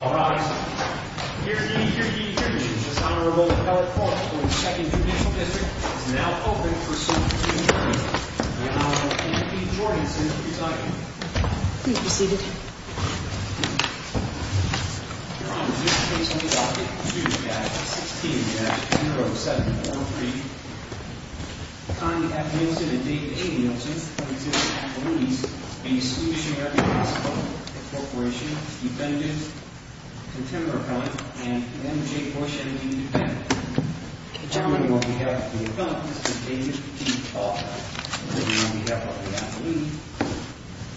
All rise. Here's the jury's decision. The Honorable Eric Falk for the 2nd Provincial District is now open for a suit in turn. The Honorable Anthony Jorgensen, if you'd like him. Please be seated. Your Honor, this case on the docket, 2-16-0713. Time to have Nielson and David A. Nielson present at the loonies. A Swedish American Hospital Corporation Defendant, Contemporary Appellant, and M.J. Busch, M.D. Defendant. Gentlemen, on behalf of the Appellant, Mr. David B. Falk. And on behalf of the Appellant,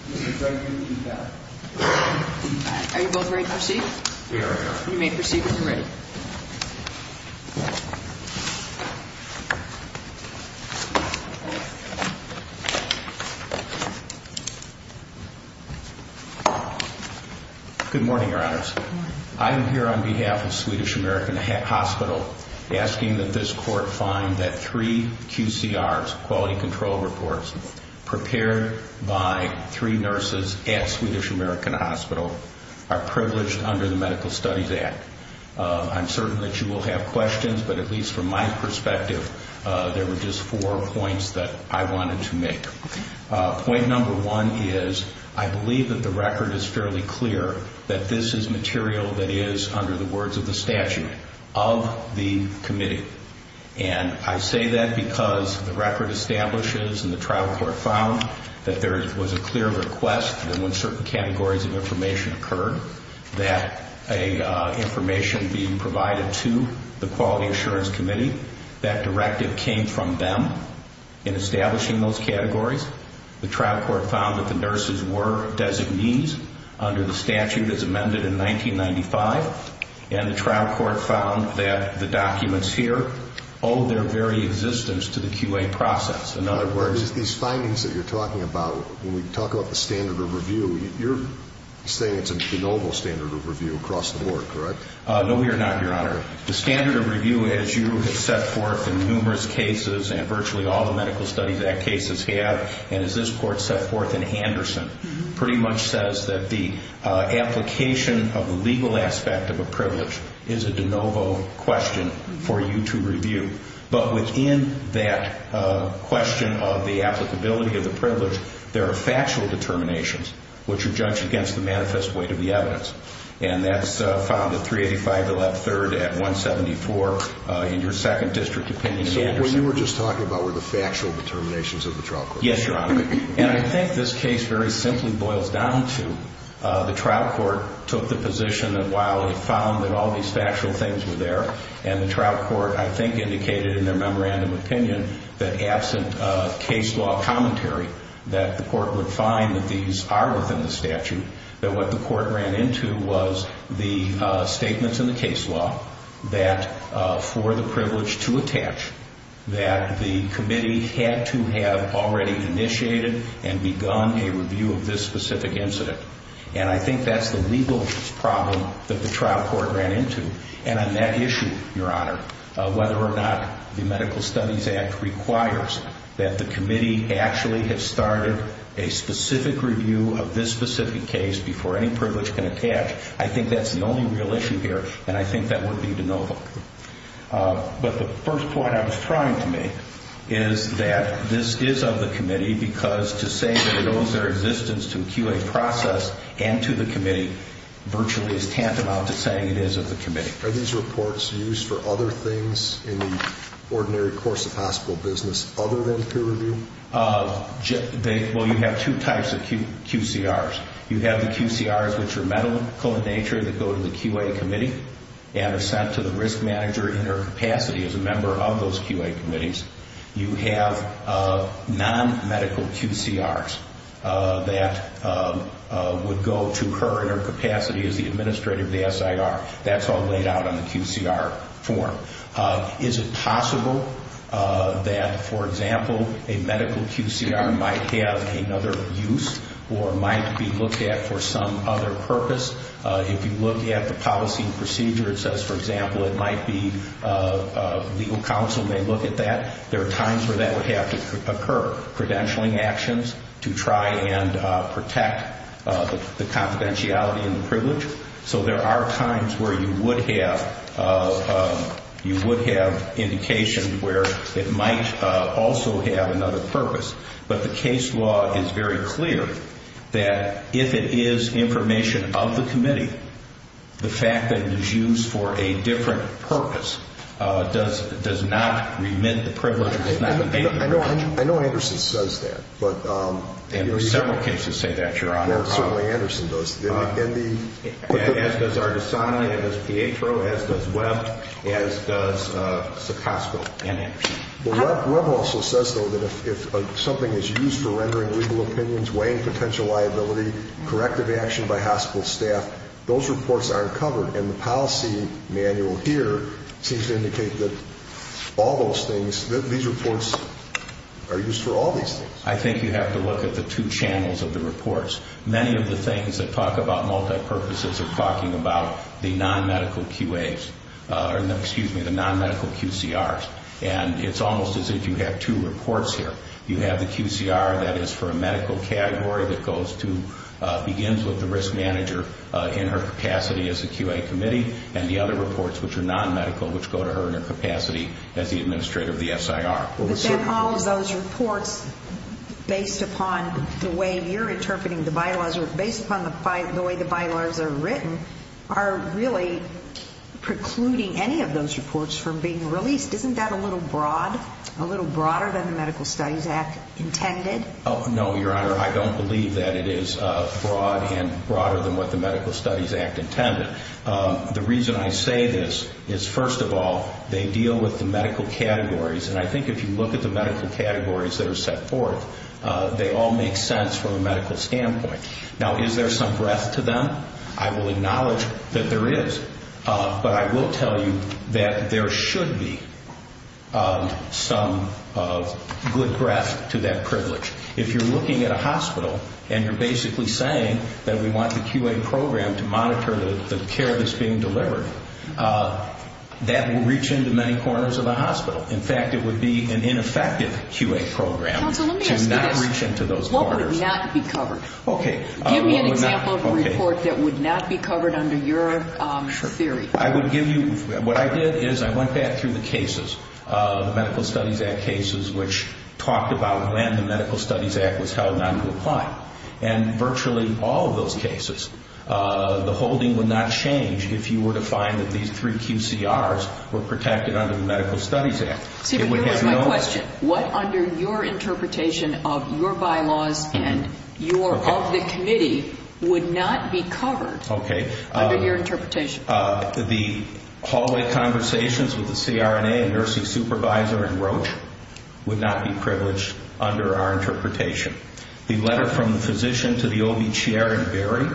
Mr. Gregory B. Falk. Are you both ready to proceed? We are, Your Honor. You may proceed when you're ready. Good morning, Your Honors. I am here on behalf of Swedish American Hospital asking that this Court find that three QCRs, Quality Control Reports, prepared by three nurses at Swedish American Hospital, are privileged under the Medical Studies Act. I'm certain that you will have questions. But at least from my perspective, there were just four points that I wanted to make. Point number one is, I believe that the record is fairly clear that this is material that is, under the words of the statute, of the committee. And I say that because the record establishes and the trial court found that there was a clear request that when certain categories of information occurred, that information being provided to the Quality Assurance Committee, that directive came from them in establishing those categories. The trial court found that the nurses were designees under the statute as amended in 1995. And the trial court found that the documents here owe their very existence to the QA process. These findings that you're talking about, when we talk about the standard of review, you're saying it's a de novo standard of review across the board, correct? No, we are not, Your Honor. The standard of review, as you have set forth in numerous cases, and virtually all the Medical Studies Act cases have, and as this Court set forth in Anderson, pretty much says that the application of the legal aspect of a privilege is a de novo question for you to review. But within that question of the applicability of the privilege, there are factual determinations, which are judged against the manifest weight of the evidence. And that's found at 385, the left third, at 174 in your second district opinion in Anderson. So what you were just talking about were the factual determinations of the trial court? Yes, Your Honor. And I think this case very simply boils down to the trial court took the position that while it found that all these factual things were there, and the trial court, I think, indicated in their memorandum opinion that absent case law commentary, that the court would find that these are within the statute, that what the court ran into was the statements in the case law that for the privilege to attach, that the committee had to have already initiated and begun a review of this specific incident. And I think that's the legal problem that the trial court ran into. And on that issue, Your Honor, whether or not the Medical Studies Act requires that the committee actually have started a specific review of this specific case before any privilege can attach, I think that's the only real issue here, and I think that would be de novo. But the first point I was trying to make is that this is of the committee because to say that it owes their existence to a QA process and to the committee virtually is tantamount to saying it is of the committee. Are these reports used for other things in the ordinary course of hospital business other than peer review? Well, you have two types of QCRs. You have the QCRs which are medical in nature that go to the QA committee and are sent to the risk manager in their capacity as a member of those QA committees. You have non-medical QCRs that would go to her in her capacity as the administrator of the SIR. That's all laid out on the QCR form. Is it possible that, for example, a medical QCR might have another use or might be looked at for some other purpose? If you look at the policy and procedure, it says, for example, it might be legal counsel may look at that. There are times where that would have to occur. Credentialing actions to try and protect the confidentiality and the privilege. So there are times where you would have indication where it might also have another purpose. But the case law is very clear that if it is information of the committee, the fact that it is used for a different purpose does not remit the privilege. I know Anderson says that. There are several cases that say that, Your Honor. Certainly Anderson does. As does Ardisoni, as does Pietro, as does Webb, as does Socosco and Anderson. Webb also says, though, that if something is used for rendering legal opinions, weighing potential liability, corrective action by hospital staff, those reports aren't covered. And the policy manual here seems to indicate that all those things, these reports are used for all these things. I think you have to look at the two channels of the reports. Many of the things that talk about multi-purposes are talking about the non-medical QAs, excuse me, the non-medical QCRs. And it's almost as if you have two reports here. You have the QCR that is for a medical category that begins with the risk manager in her capacity as a QA committee and the other reports, which are non-medical, which go to her in her capacity as the administrator of the SIR. But then all of those reports, based upon the way you're interpreting the bylaws or based upon the way the bylaws are written, are really precluding any of those reports from being released. Isn't that a little broad? A little broader than the Medical Studies Act intended? No, Your Honor, I don't believe that it is broad and broader than what the Medical Studies Act intended. The reason I say this is, first of all, they deal with the medical categories. And I think if you look at the medical categories that are set forth, they all make sense from a medical standpoint. Now, is there some breadth to them? I will acknowledge that there is. But I will tell you that there should be some good breadth to that privilege. If you're looking at a hospital and you're basically saying that we want the QA program to monitor the care that's being delivered, that will reach into many corners of the hospital. In fact, it would be an ineffective QA program to not reach into those corners. Counsel, let me ask you this. What would not be covered? Give me an example of a report that would not be covered under your theory. What I did is I went back through the cases, the Medical Studies Act cases, which talked about when the Medical Studies Act was held not to apply. And virtually all of those cases, the holding would not change if you were to find that these three QCRs were protected under the Medical Studies Act. See, but here was my question. What under your interpretation of your bylaws and your of the committee would not be covered under your interpretation? The hallway conversations with the CRNA and the nursing supervisor and Roche would not be privileged under our interpretation. The letter from the physician to the OB chair in Berry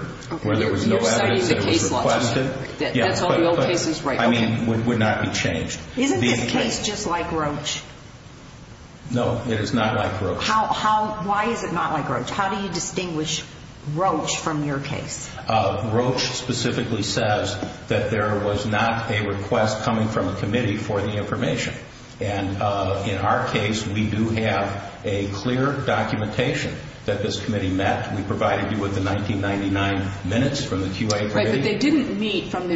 where there was no evidence that was requested would not be changed. Isn't this case just like Roche? No, it is not like Roche. Why is it not like Roche? How do you distinguish Roche from your case? Roche specifically says that there was not a request coming from a committee for the information. And in our case, we do have a clear documentation that this committee met. We provided you with the 1999 minutes from the QIA committee. Right, but they didn't meet from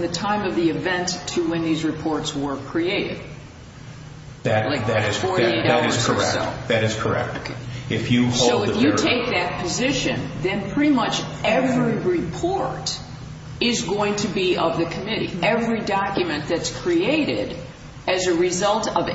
the time of the event to when these reports were created. That is correct. So if you take that position, then pretty much every report is going to be of the committee. Every document that's created as a result of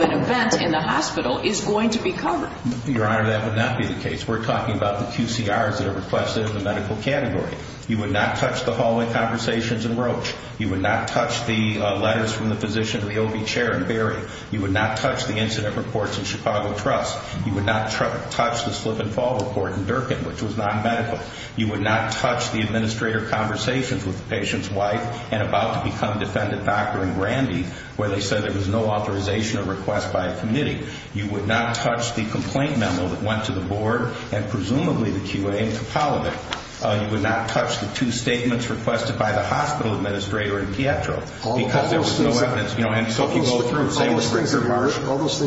an event in the hospital is going to be covered. Your Honor, that would not be the case. We're talking about the QCRs that are requested in the medical category. You would not touch the hallway conversations in Roche. You would not touch the letters from the physician to the OB chair in Berry. You would not touch the incident reports in Chicago Trust. You would not touch the slip and fall report in Durkin, which was non-medical. You would not touch the administrator conversations with the patient's wife and about to become a defendant doctor in Brandy, where they said there was no authorization or request by a committee. You would not touch the complaint memo that went to the board and presumably the QIA in Kapaulovic. You would not touch the two statements requested by the hospital administrator in Pietro. All those things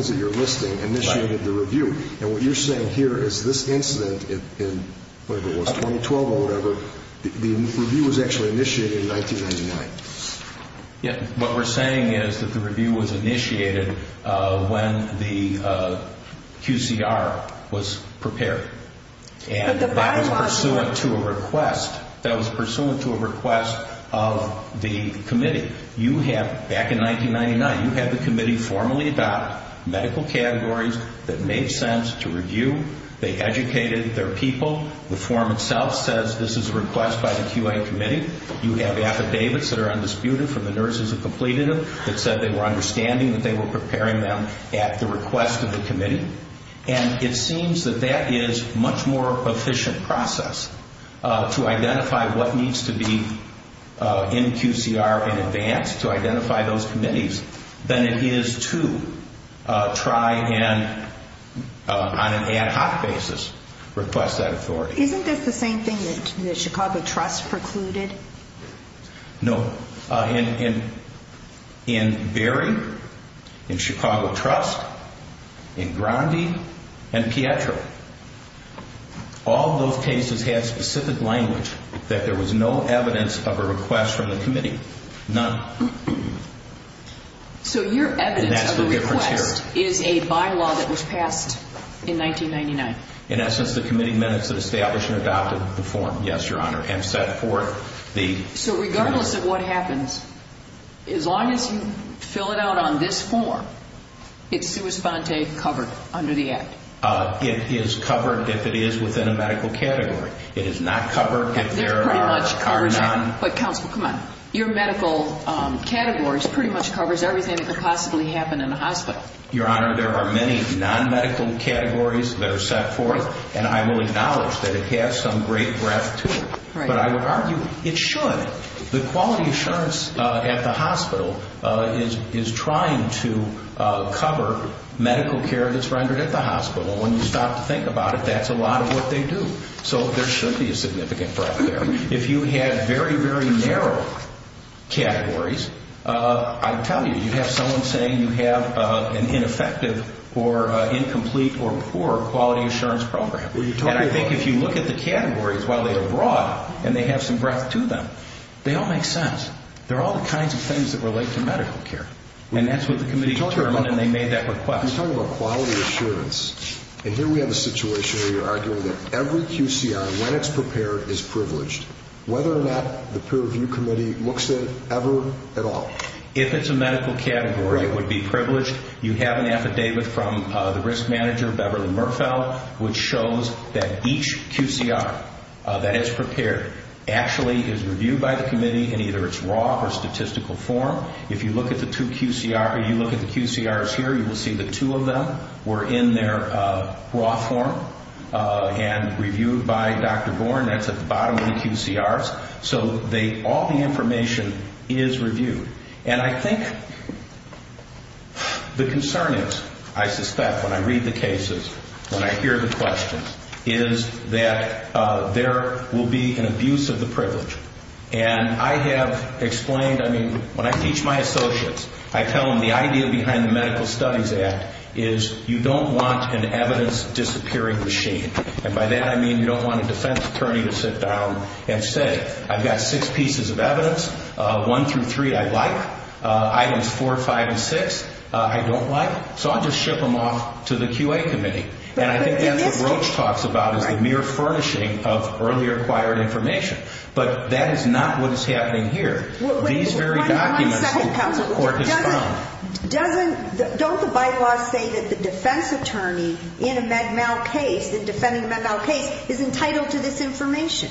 that you're listing initiated the review. And what you're saying here is this incident in 2012 or whatever, the review was actually initiated in 1999. What we're saying is that the review was initiated when the QCR was prepared. And that was pursuant to a request of the committee. You have, back in 1999, you had the committee formally adopt medical categories that made sense to review. They educated their people. The form itself says this is a request by the QIA committee. You have affidavits that are undisputed from the nurses that completed them that said they were understanding that they were preparing them at the request of the committee. And it seems that that is a much more efficient process to identify what needs to be in QCR in advance to identify those committees than it is to try and, on an ad hoc basis, request that authority. Isn't this the same thing that the Chicago Trust precluded? No. In Berry, in Chicago Trust, in Grandi and Pietro, all those cases had specific language that there was no evidence of a request from the committee. None. So your evidence of a request is a bylaw that was passed in 1999? In essence, the committee minutes that established and adopted the form, yes, Your Honor, and set forth the... So regardless of what happens, as long as you fill it out on this form, it's sua sponte, covered, under the Act? It is covered if it is within a medical category. It is not covered if there are none. But, counsel, come on. Your medical categories pretty much covers everything that could possibly happen in a hospital. Your Honor, there are many non-medical categories that are set forth, and I will acknowledge that it has some great breadth to it. But I would argue it should. The quality assurance at the hospital is trying to cover medical care that's rendered at the hospital. When you stop to think about it, that's a lot of what they do. So there should be a significant breadth there. If you had very, very narrow categories, I tell you, you'd have someone saying you have an ineffective or incomplete or poor quality assurance program. And I think if you look at the categories while they are broad and they have some breadth to them, they all make sense. They're all the kinds of things that relate to medical care. And that's what the committee determined, and they made that request. You're talking about quality assurance. And here we have a situation where you're arguing that every QCR, when it's prepared, is privileged, whether or not the peer review committee looks at it ever at all. If it's a medical category, it would be privileged. You have an affidavit from the risk manager, Beverly Merfeld, which shows that each QCR that is prepared actually is reviewed by the committee in either its raw or statistical form. If you look at the QCRs here, you will see the two of them were in their raw form and reviewed by Dr. Born. That's at the bottom of the QCRs. So all the information is reviewed. And I think the concern is, I suspect when I read the cases, when I hear the questions, is that there will be an abuse of the privilege. And I have explained, I mean, when I teach my associates, I tell them the idea behind the Medical Studies Act is you don't want an evidence-disappearing machine. And by that I mean you don't want a defense attorney to sit down and say, I've got six pieces of evidence, one through three I like, items four, five, and six I don't like, so I'll just ship them off to the QA committee. And I think that's what Roach talks about, is the mere furnishing of earlier acquired information. But that is not what is happening here. These very documents the court has found... Don't the bylaws say that the defense attorney in a MedMal case, in defending a MedMal case, is entitled to this information?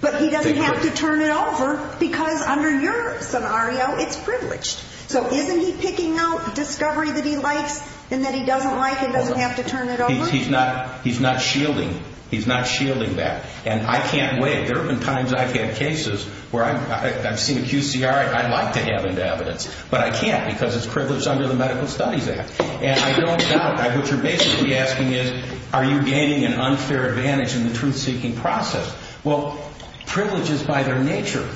But he doesn't have to turn it over because under your scenario it's privileged. So isn't he picking out discovery that he likes and that he doesn't like and he doesn't have to turn it over? He's not shielding that. And I can't wait. There have been times I've had cases where I've seen a QCR I'd like to have into evidence, but I can't because it's privileged under the Medical Studies Act. And I don't doubt, what you're basically asking is are you gaining an unfair advantage in the truth-seeking process? Well, privileges by their nature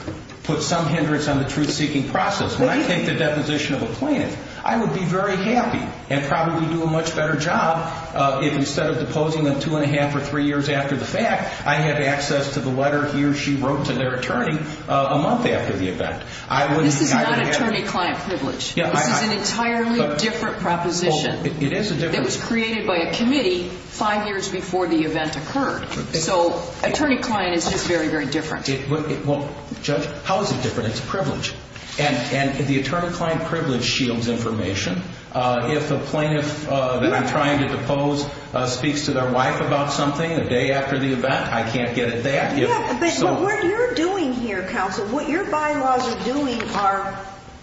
put some hindrance on the truth-seeking process. When I take the deposition of a plaintiff, I would be very happy and probably do a much better job if instead of deposing them two and a half or three years after the fact, I had access to the letter he or she wrote to their attorney a month after the event. This is not attorney-client privilege. This is an entirely different proposition. It was created by a committee five years before the event occurred. So attorney-client is just very, very different. Judge, how is it different? It's privilege. And the attorney-client privilege shields information. If a plaintiff that I'm trying to depose speaks to their wife about something a day after the event, I can't get at that. But what you're doing here, counsel, what your bylaws are doing are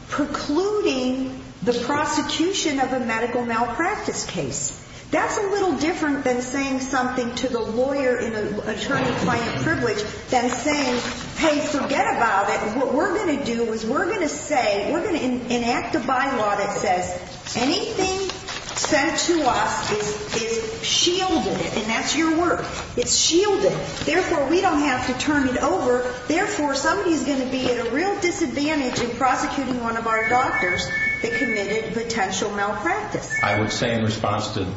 precluding the prosecution of a medical malpractice case. That's a little different than saying something to the lawyer in an attorney-client privilege than saying, Hey, forget about it. What we're going to do is we're going to say, we're going to enact a bylaw that says anything sent to us is shielded, and that's your work. It's shielded. Therefore, we don't have to turn it over. Therefore, somebody's going to be at a real disadvantage in prosecuting one of our doctors that committed a potential malpractice. I would say in response to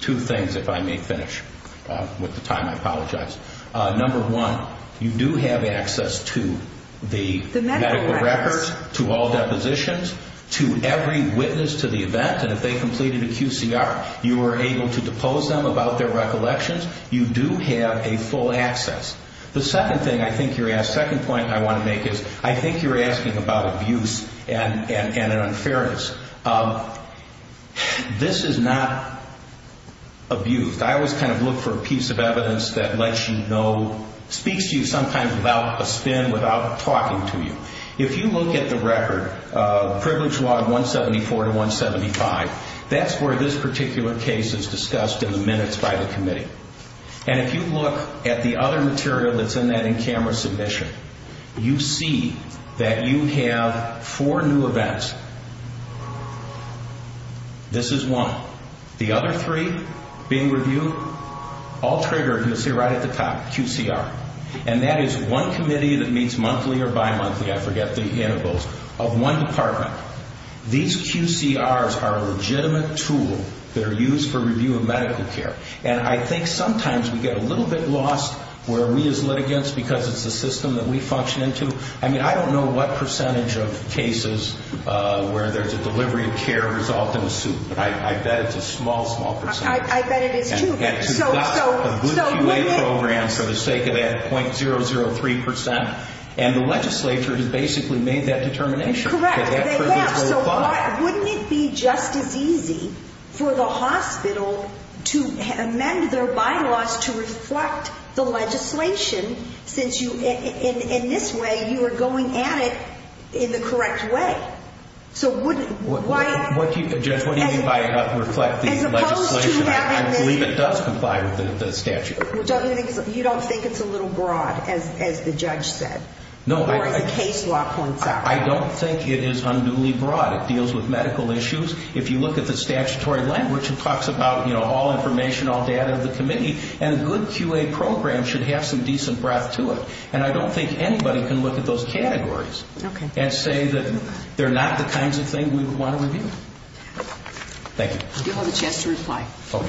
two things, if I may finish with the time, I apologize. Number one, you do have access to the medical records, to all depositions, to every witness to the event, and if they completed a QCR, you were able to depose them about their recollections. You do have a full access. The second thing I think you're asking, the second point I want to make is I think you're asking about abuse and an unfairness. This is not abuse. I always kind of look for a piece of evidence that lets you know, speaks to you sometimes without a spin, without talking to you. If you look at the record, Privilege Law 174 to 175, that's where this particular case is discussed in the minutes by the committee. And if you look at the other material that's in that in-camera submission, you see that you have four new events. This is one. The other three being reviewed, all triggered, you'll see right at the top, QCR. And that is one committee that meets monthly or bimonthly, I forget the intervals, of one department. These QCRs are a legitimate tool that are used for review of medical care. And I think sometimes we get a little bit lost where we as litigants, because it's the system that we function into. I mean, I don't know what percentage of cases where there's a delivery of care result in a suit, but I bet it's a small, small percentage. I bet it is, too. And we've got a good QA program for the sake of that .003%. And the legislature has basically made that determination. Correct. Wouldn't it be just as easy for the hospital to amend their bylaws to reflect the legislation since in this way you are going at it in the correct way? Judge, what do you mean by reflect the legislation? I believe it does comply with the statute. You don't think it's a little broad, as the judge said? Or as the case law points out? I don't think it is unduly broad. It deals with medical issues. If you look at the statutory language, it talks about all information, all data of the committee. And a good QA program should have some decent breadth to it. And I don't think anybody can look at those categories and say that they're not the kinds of things we would want to review. Thank you. You have a chance to reply. Okay.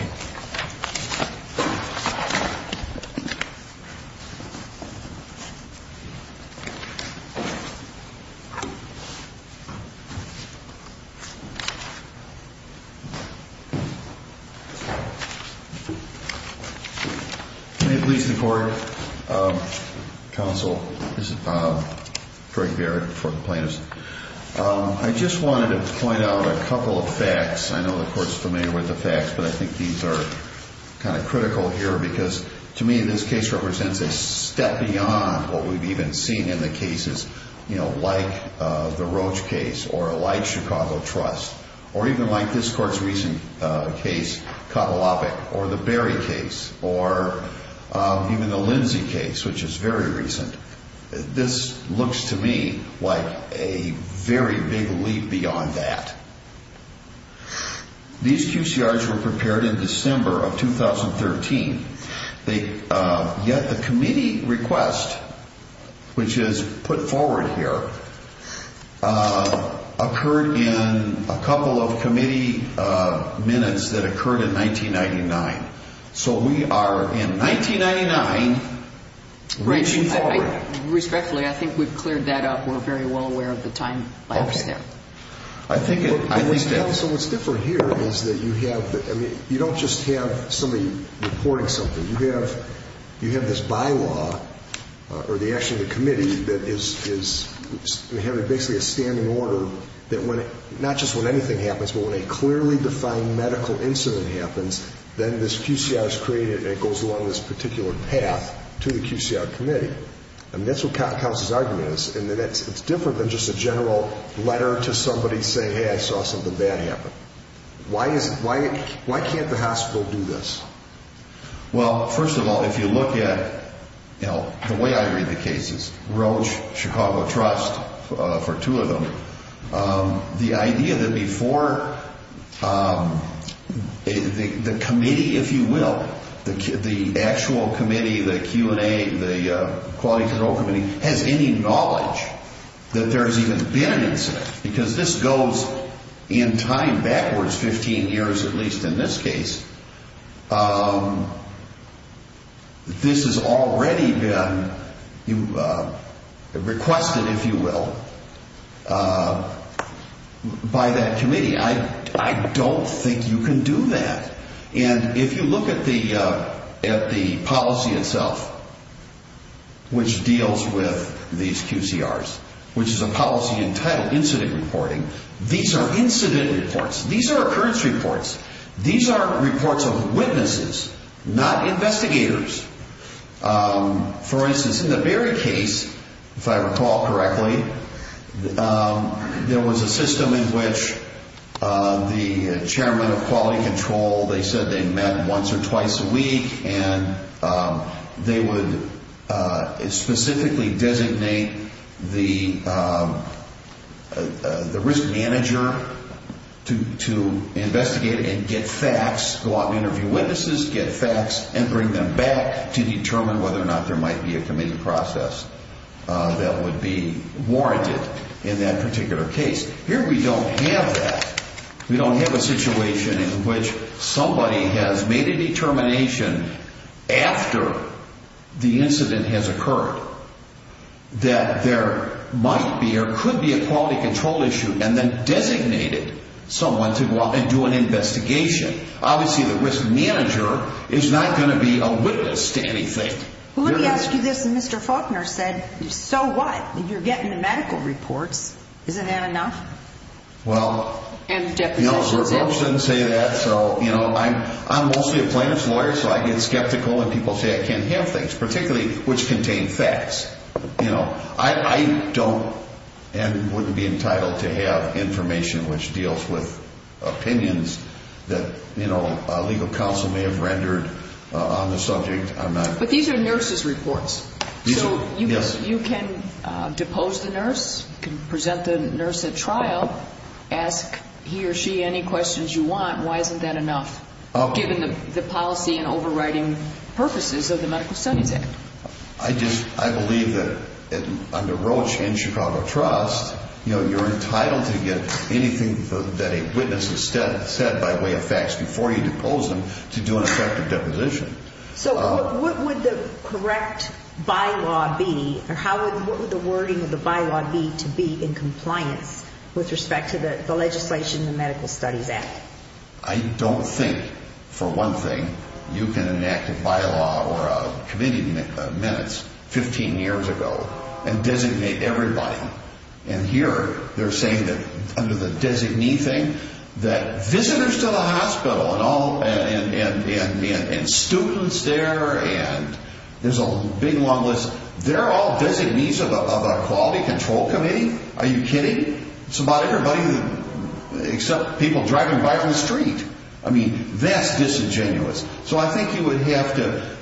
May it please the Court, Counsel, this is Bob. I just wanted to point out a couple of facts. I know the Court is familiar with the facts, but I think these are kind of critical here because to me this case represents a step beyond what we've even seen in the cases like the Roach case or like Chicago Trust or even like this Court's recent case, or the Berry case or even the Lindsay case, which is very recent. This looks to me like a very big leap beyond that. These QCRs were prepared in December of 2013. Yet the committee request, which is put forward here, occurred in a couple of committee minutes that occurred in 1999. So we are in 1999 reaching forward. Respectfully, I think we've cleared that up. We're very well aware of the time lapse there. I think, Counsel, what's different here is that you don't just have somebody reporting something. You have this bylaw or actually the committee that is having basically a standing order that not just when anything happens, but when a clearly defined medical incident happens, then this QCR is created and it goes along this particular path to the QCR committee. That's what Counsel's argument is. It's different than just a general letter to somebody saying, hey, I saw something bad happen. Why can't the hospital do this? Well, first of all, if you look at the way I read the cases, Roche, Chicago Trust for two of them, the idea that before the committee, if you will, the actual committee, the Q&A, the quality control committee has any knowledge that there has even been an incident because this goes in time backwards 15 years at least in this case. This has already been requested, if you will, by that committee. I don't think you can do that. If you look at the policy itself which deals with these QCRs, which is a policy entitled incident reporting, these are incident reports. These are occurrence reports. These are reports of witnesses, not investigators. For instance, in the Berry case, if I recall correctly, there was a system in which the chairman of quality control, they said they met once or twice a week and they would specifically designate the risk manager to investigate and get facts, go out and interview witnesses, get facts and bring them back to determine whether or not there might be a committee process that would be warranted in that particular case. Here we don't have that. We don't have a situation in which somebody has made a determination after the incident has occurred that there might be or could be a quality control issue and then designated someone to go out and do an investigation. Obviously the risk manager is not going to be a witness to anything. Let me ask you this. Mr. Faulkner said so what? You're getting the medical reports. Isn't that enough? I'm mostly a plaintiff's lawyer so I get skeptical when people say I can't have things, particularly which contain facts. I don't and wouldn't be entitled to have information which deals with opinions that a legal counsel may have rendered on the subject. These are nurses' reports. You can depose the nurse, present the nurse at trial, ask he or she any questions you want. Why isn't that enough given the policy and overriding purposes of the Medical Studies Act? I believe that under Roche and Chicago Trust you're entitled to get anything that a witness has said by way of facts before you What would the correct bylaw be or what would the wording of the bylaw be to be in compliance with respect to the legislation in the Medical Studies Act? I don't think for one thing you can enact a bylaw or a committee minutes 15 years ago and designate everybody and here they're saying that under the designating that visitors to the hospital and students there and there's a big long list they're all designees of a quality control committee? Are you kidding? It's about everybody except people driving by on the street. That's disingenuous. So I think you would have to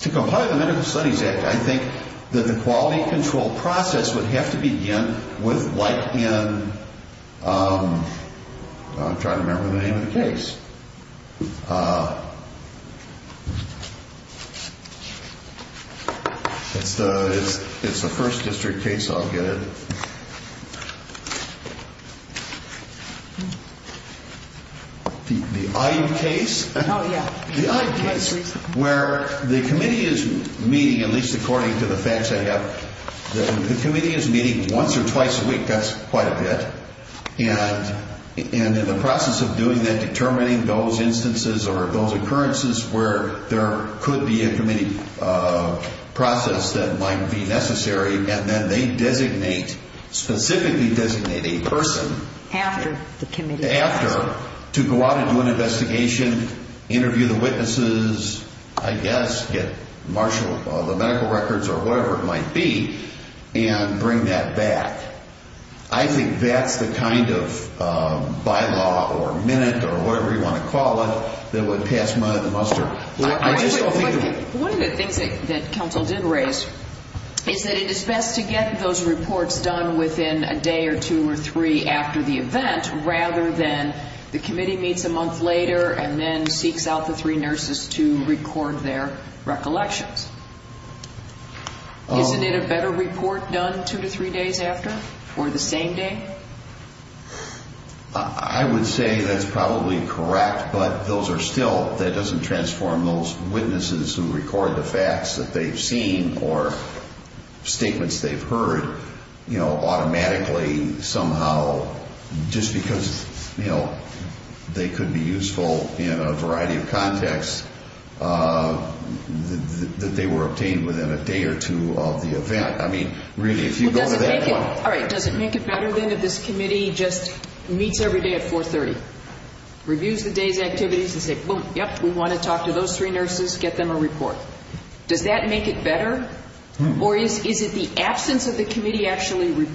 to comply with the Medical Studies Act I think that the quality control process would have to begin with wiping and then I'm trying to remember the name of the case It's the first district case I'll get it The IUD case where the committee is meeting at least according to the facts I have the committee is meeting once or twice a week that's quite a bit and in the process of doing that, determining those instances or those occurrences where there could be a committee process that might be necessary and then they designate specifically designate a person to go out and do an investigation interview the witnesses get the medical records or whatever it might be and bring that back I think that's the kind of bylaw or minute or whatever you want to call it One of the things that council did raise is that it is best to get those reports done within a day or two or three after the event rather than the committee meets a month later and then seeks out the three nurses to record their recollections Isn't it a better report done two to three days after or the same day? I would say that's probably correct but that doesn't transform those witnesses who record the facts that they've seen or statements they've heard automatically somehow just because they could be useful in a variety of contexts that they were obtained within a day or two of the event Does it make it better then if this committee just meets every day at 4.30 reviews the day's activities and says we want to talk to those three nurses and get them a report Does that make it better? Or is it the absence of the committee actually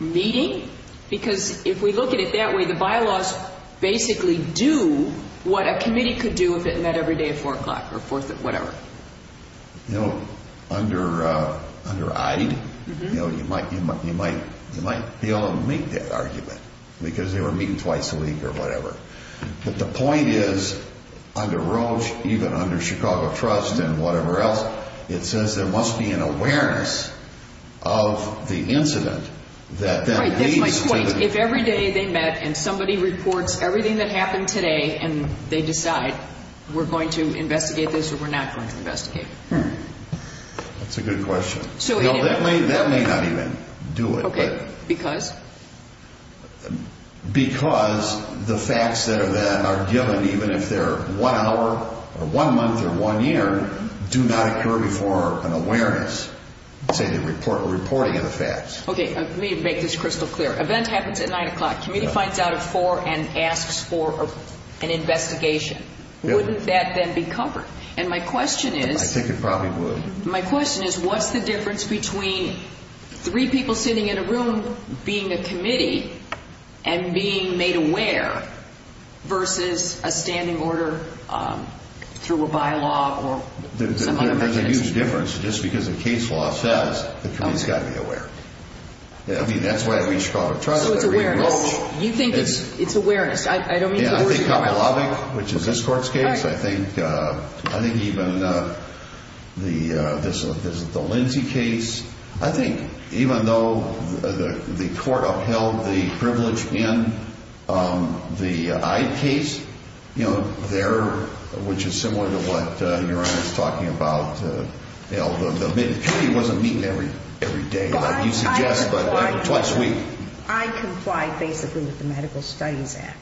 meeting because if we look at it that way the bylaws basically do what a committee could do if it met every day at 4 o'clock or whatever Under IDE you might be able to make that argument because they were meeting twice a week or whatever But the point is, under Roche even under Chicago Trust and whatever else it says there must be an awareness of the incident Right, that's my point. If every day they met and somebody reports everything that happened today and they decide we're going to investigate this or we're not going to investigate That's a good question That may not even do it Because? Because the facts that are given even if they're one hour or one month or one year do not occur before an awareness say the reporting of the facts Okay, let me make this crystal clear An event happens at 9 o'clock, the committee finds out at 4 and asks for an investigation Wouldn't that then be covered? I think it probably would My question is, what's the difference between three people sitting in a room being a committee and being made aware versus a standing order through a bylaw or some other agency There's a huge difference just because the case law says the committee's got to be aware So it's awareness You think it's awareness I don't mean to... Which is this court's case I think even the Lindsay case I think even though the court upheld the privilege in the Ide case which is similar to what Your Honor is talking about as you suggest, but twice a week I complied basically with the Medical Studies Act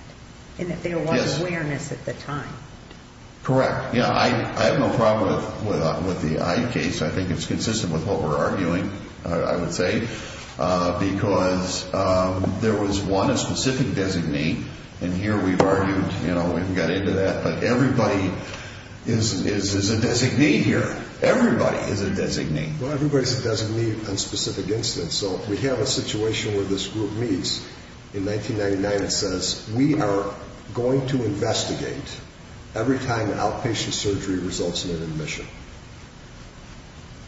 and that there was awareness at the time Correct, I have no problem with the Ide case I think it's consistent with what we're arguing I would say because there was one specific designee and here we've argued and got into that but everybody is a designee here Everybody is a designee Everybody is a designee on specific incidents We have a situation where this group meets in 1999 and says we are going to investigate every time outpatient surgery results in an admission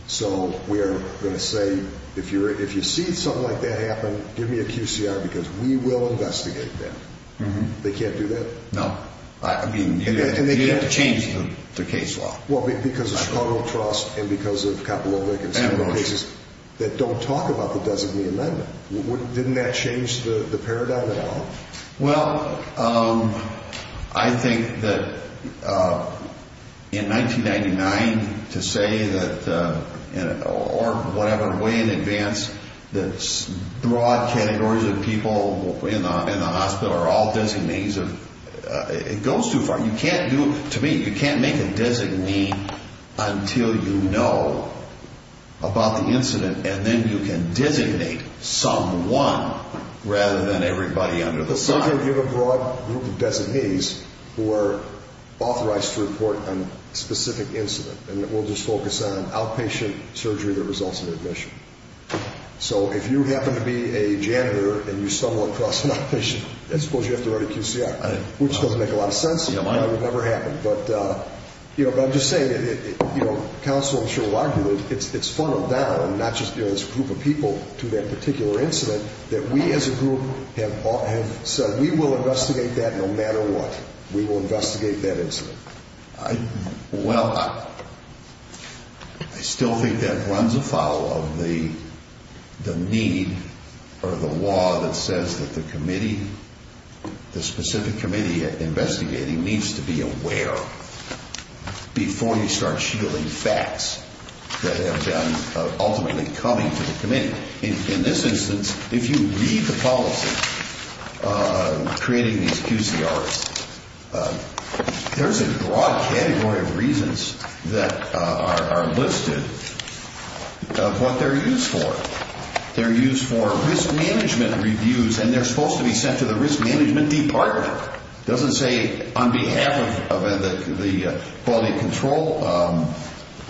So we're going to say if you see something like that happen give me a QCR because we will investigate that They can't do that? No, you have to change the case law Because of Chicago Trust and because of Kapolovic and several cases that don't talk about the designee amendment Didn't that change the paradigm at all? Well, I think that in 1999 to say that or whatever way in advance that broad categories of people in the hospital are all designees It goes too far To me, you can't make a designee until you know about the incident and then you can designate someone rather than everybody under the sun You have a broad group of designees who are authorized to report on a specific incident and we'll just focus on outpatient surgery that results in admission So if you happen to be a janitor and you stumble across an outpatient I suppose you have to write a QCR which doesn't make a lot of sense but I'm just saying counsel will argue that it's funneled down not just this group of people to that particular incident that we as a group have said we will investigate that no matter what We will investigate that incident Well, I still think that runs afoul of the need or the law that says that the committee the specific committee investigating needs to be aware before you start shielding facts that have been ultimately coming to the committee In this instance, if you read the policy creating these QCRs there's a broad category of reasons that are listed of what they're used for They're used for risk management reviews and they're supposed to be sent to the risk management department It doesn't say on behalf of the quality control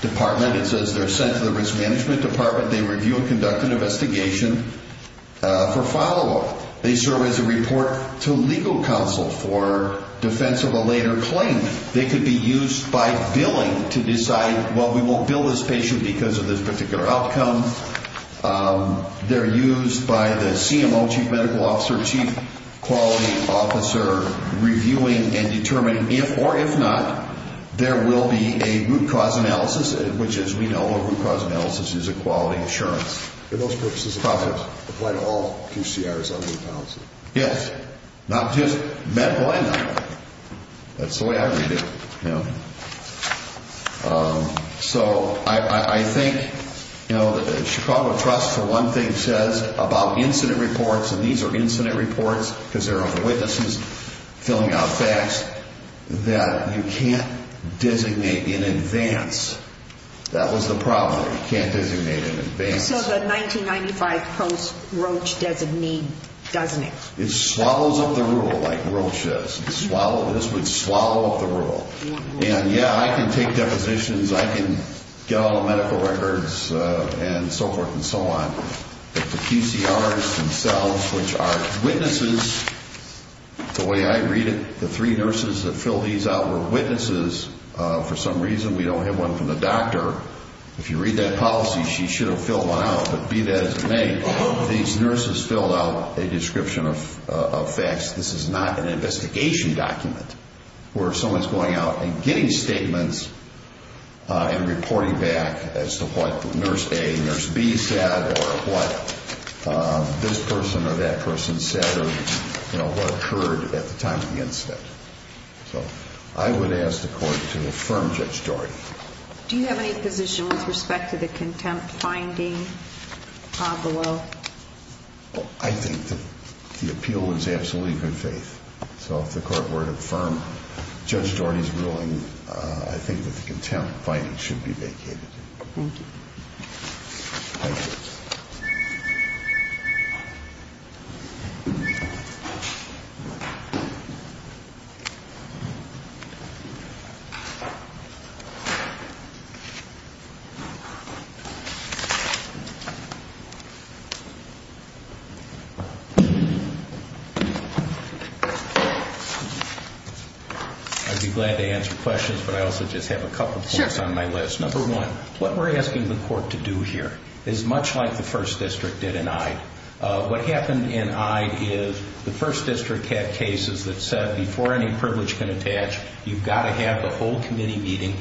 department It says they're sent to the risk management department They review and conduct an investigation for follow-up They serve as a report to legal counsel for defense of a later claim They could be used by billing to decide, well, we won't bill this patient because of this particular outcome They're used by the CMO, Chief Medical Officer Chief Quality Officer reviewing and determining if or if not there will be a root cause analysis which, as we know, root cause analysis is a quality assurance Are those purposes applied to all QCRs under the policy? Yes. Not just MedLine That's the way I read it So, I think Chicago Trust, for one thing says about incident reports and these are incident reports because there are witnesses filling out facts that you can't designate in advance That was the problem You can't designate in advance So the 1995 post Roche doesn't mean, doesn't it? It swallows up the rule like Roche does This would swallow up the rule And yeah, I can take depositions I can get all the medical records and so forth and so on But the QCRs themselves, which are witnesses The way I read it, the three nurses that fill these out were witnesses for some reason We don't have one from the doctor If you read that policy, she should have filled one out But be that as it may, these nurses filled out a description of facts This is not an investigation document where someone's going out and getting statements and reporting back as to what Nurse A and Nurse B said or what this person or that person said or what occurred at the time of the incident So I would ask the court to affirm Judge Daugherty Do you have any position with respect to the contempt finding, Pablo? I think that the appeal was absolutely in good faith So if the court were to affirm Judge Daugherty's ruling I think that the contempt finding should be vacated Thank you Thank you Thank you I'd be glad to answer questions but I also just have a couple points on my list Number one, what we're asking the court to do here is much like the 1st District did in Ide What happened in Ide is the 1st District had cases that said before any privilege can attach you've got to have the whole committee meeting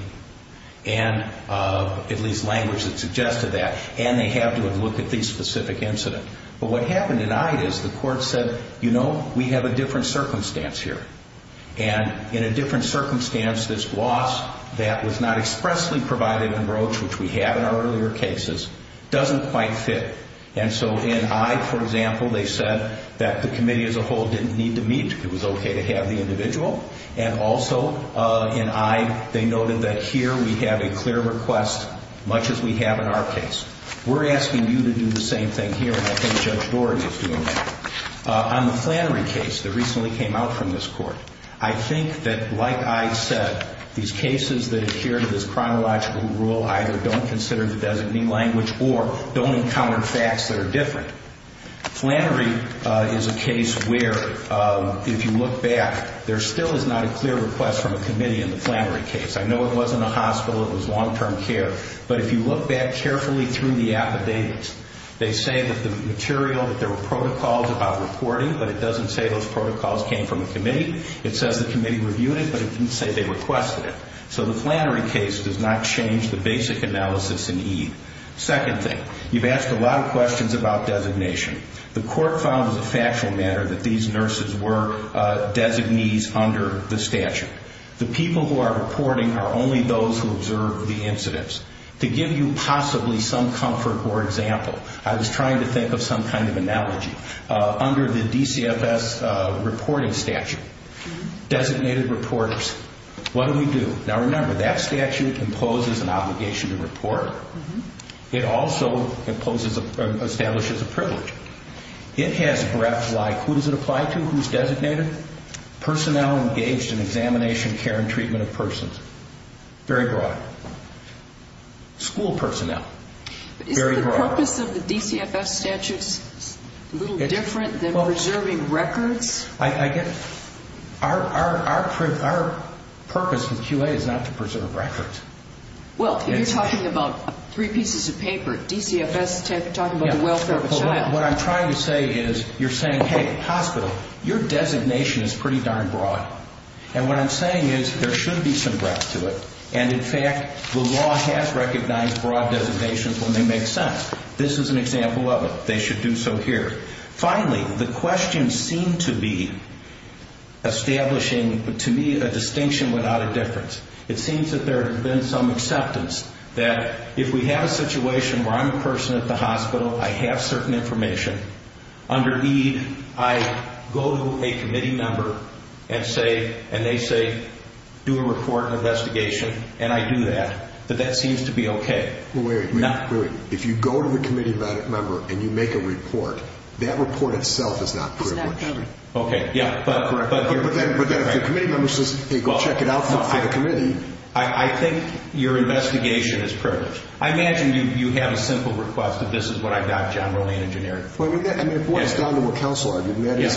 and at least language that suggested that and they have to have looked at the specific incident But what happened in Ide is the court said you know, we have a different circumstance here and in a different circumstance this gloss that was not expressly provided in Roach which we had in our earlier cases, doesn't quite fit and so in Ide, for example, they said that the committee as a whole didn't need to meet it was okay to have the individual and also in Ide, they noted that here we have a clear request much as we have in our case We're asking you to do the same thing here and I think Judge Daugherty is doing that On the Flannery case that recently came out from this court I think that like I said, these cases that adhere to this chronological rule either don't consider the designing language or don't encounter facts that are different. Flannery is a case where if you look back, there still is not a clear request from a committee in the Flannery case I know it wasn't a hospital, it was long-term care but if you look back carefully through the affidavits they say that the material, that there were protocols about reporting, but it doesn't say those protocols came from the committee it says the committee reviewed it, but it didn't say they requested it so the Flannery case does not change the basic analysis in Ide. Second thing, you've asked a lot of questions about designation. The court found as a factual matter that these nurses were designees under the statute. The people who are reporting are only those who observed the incidents to give you possibly some comfort or example I was trying to think of some kind of analogy under the DCFS reporting statute designated reporters. What do we do? Now remember, that statute imposes an obligation to report. It also establishes a privilege. It has breaths like, who does it apply to? Who's designated? Personnel engaged in examination, care and treatment of persons very broad. School personnel very broad. Is the purpose of the DCFS statute a little different than preserving records? I guess our purpose with QA is not to preserve records. Well, you're talking about three pieces of paper. DCFS talking about the welfare of a child. What I'm trying to say is, you're saying, hey hospital, your designation is pretty darn broad and what I'm saying is, there should be some breadth to it and in fact, the law has recognized broad designations when they make sense. This is an example of it. They should do so here. Finally, the questions seem to be establishing to me a distinction without a difference. It seems that there has been some acceptance that if we have a situation where I'm a person at the hospital, I have certain information. Under EAD, I go to a committee member and they say, do a report and investigation and I do that. But that seems to be okay. If you go to the committee member and you make a report, that report itself is not privileged. But then if the committee member says, hey go check it out for the committee. I think your investigation is privileged. I imagine you have a simple request that this is what I've got. John That's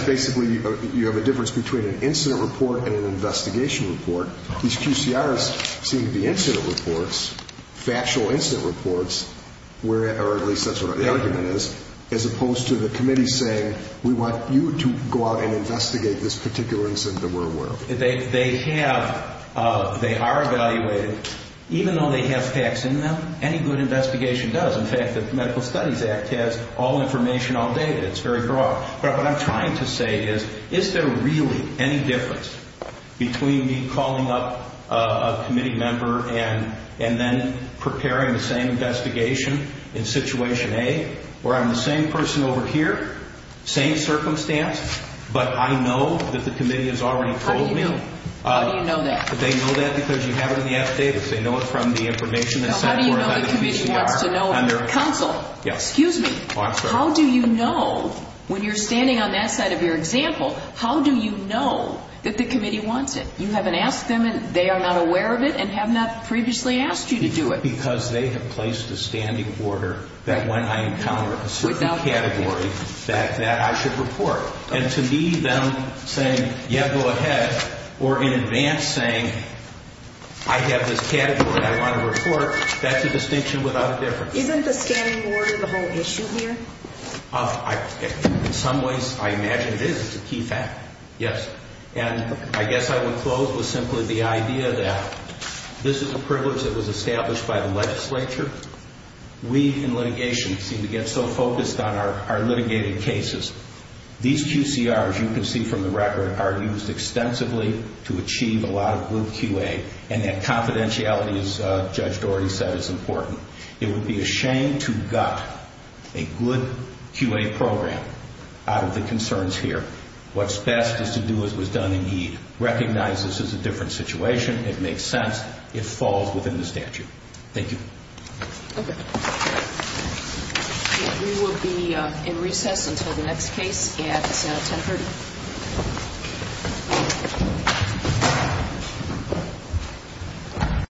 basically, you have a difference between an incident report and an investigation report. These QCRs seem to be incident reports, factual incident reports or at least that's what the argument is as opposed to the committee saying, we want you to go out and investigate this particular incident that we're aware of. They have, they are evaluated even though they have facts in them, any good investigation does. In fact, the Medical Studies Act has all I'm trying to say is, is there really any difference between me calling up a committee member and then preparing the same investigation in situation A where I'm the same person over here, same circumstance but I know that the committee has already told me How do you know? How do you know that? They know that because you have it in the affidavits. They know it from the information that's sent How do you know the committee wants to know? Counsel, excuse me How do you know, when you're standing on that side of your example, how do you know that the committee wants it? You haven't asked them and they are not aware of it and have not previously asked you to do it. Because they have placed a standing order that when I encounter a specific category, that I should report. And to me, them saying, yeah go ahead or in advance saying, I have this category that I want to report, that's a distinction without difference. Isn't the standing order the whole issue here? In some ways, I imagine it is It's a key fact, yes. And I guess I would close with simply the idea that this is a privilege that was established by the legislature We in litigation seem to get so focused on our litigated cases. These QCRs you can see from the record are used extensively to achieve a lot of group QA and that confidentiality as Judge Dougherty said is important. It would be a shame to gut a good QA program out of the concerns here. What's best is to do as was done in Ede. Recognize this as a different situation. It makes sense. It falls within the statute. Thank you. We will be in recess until the next case at 1030.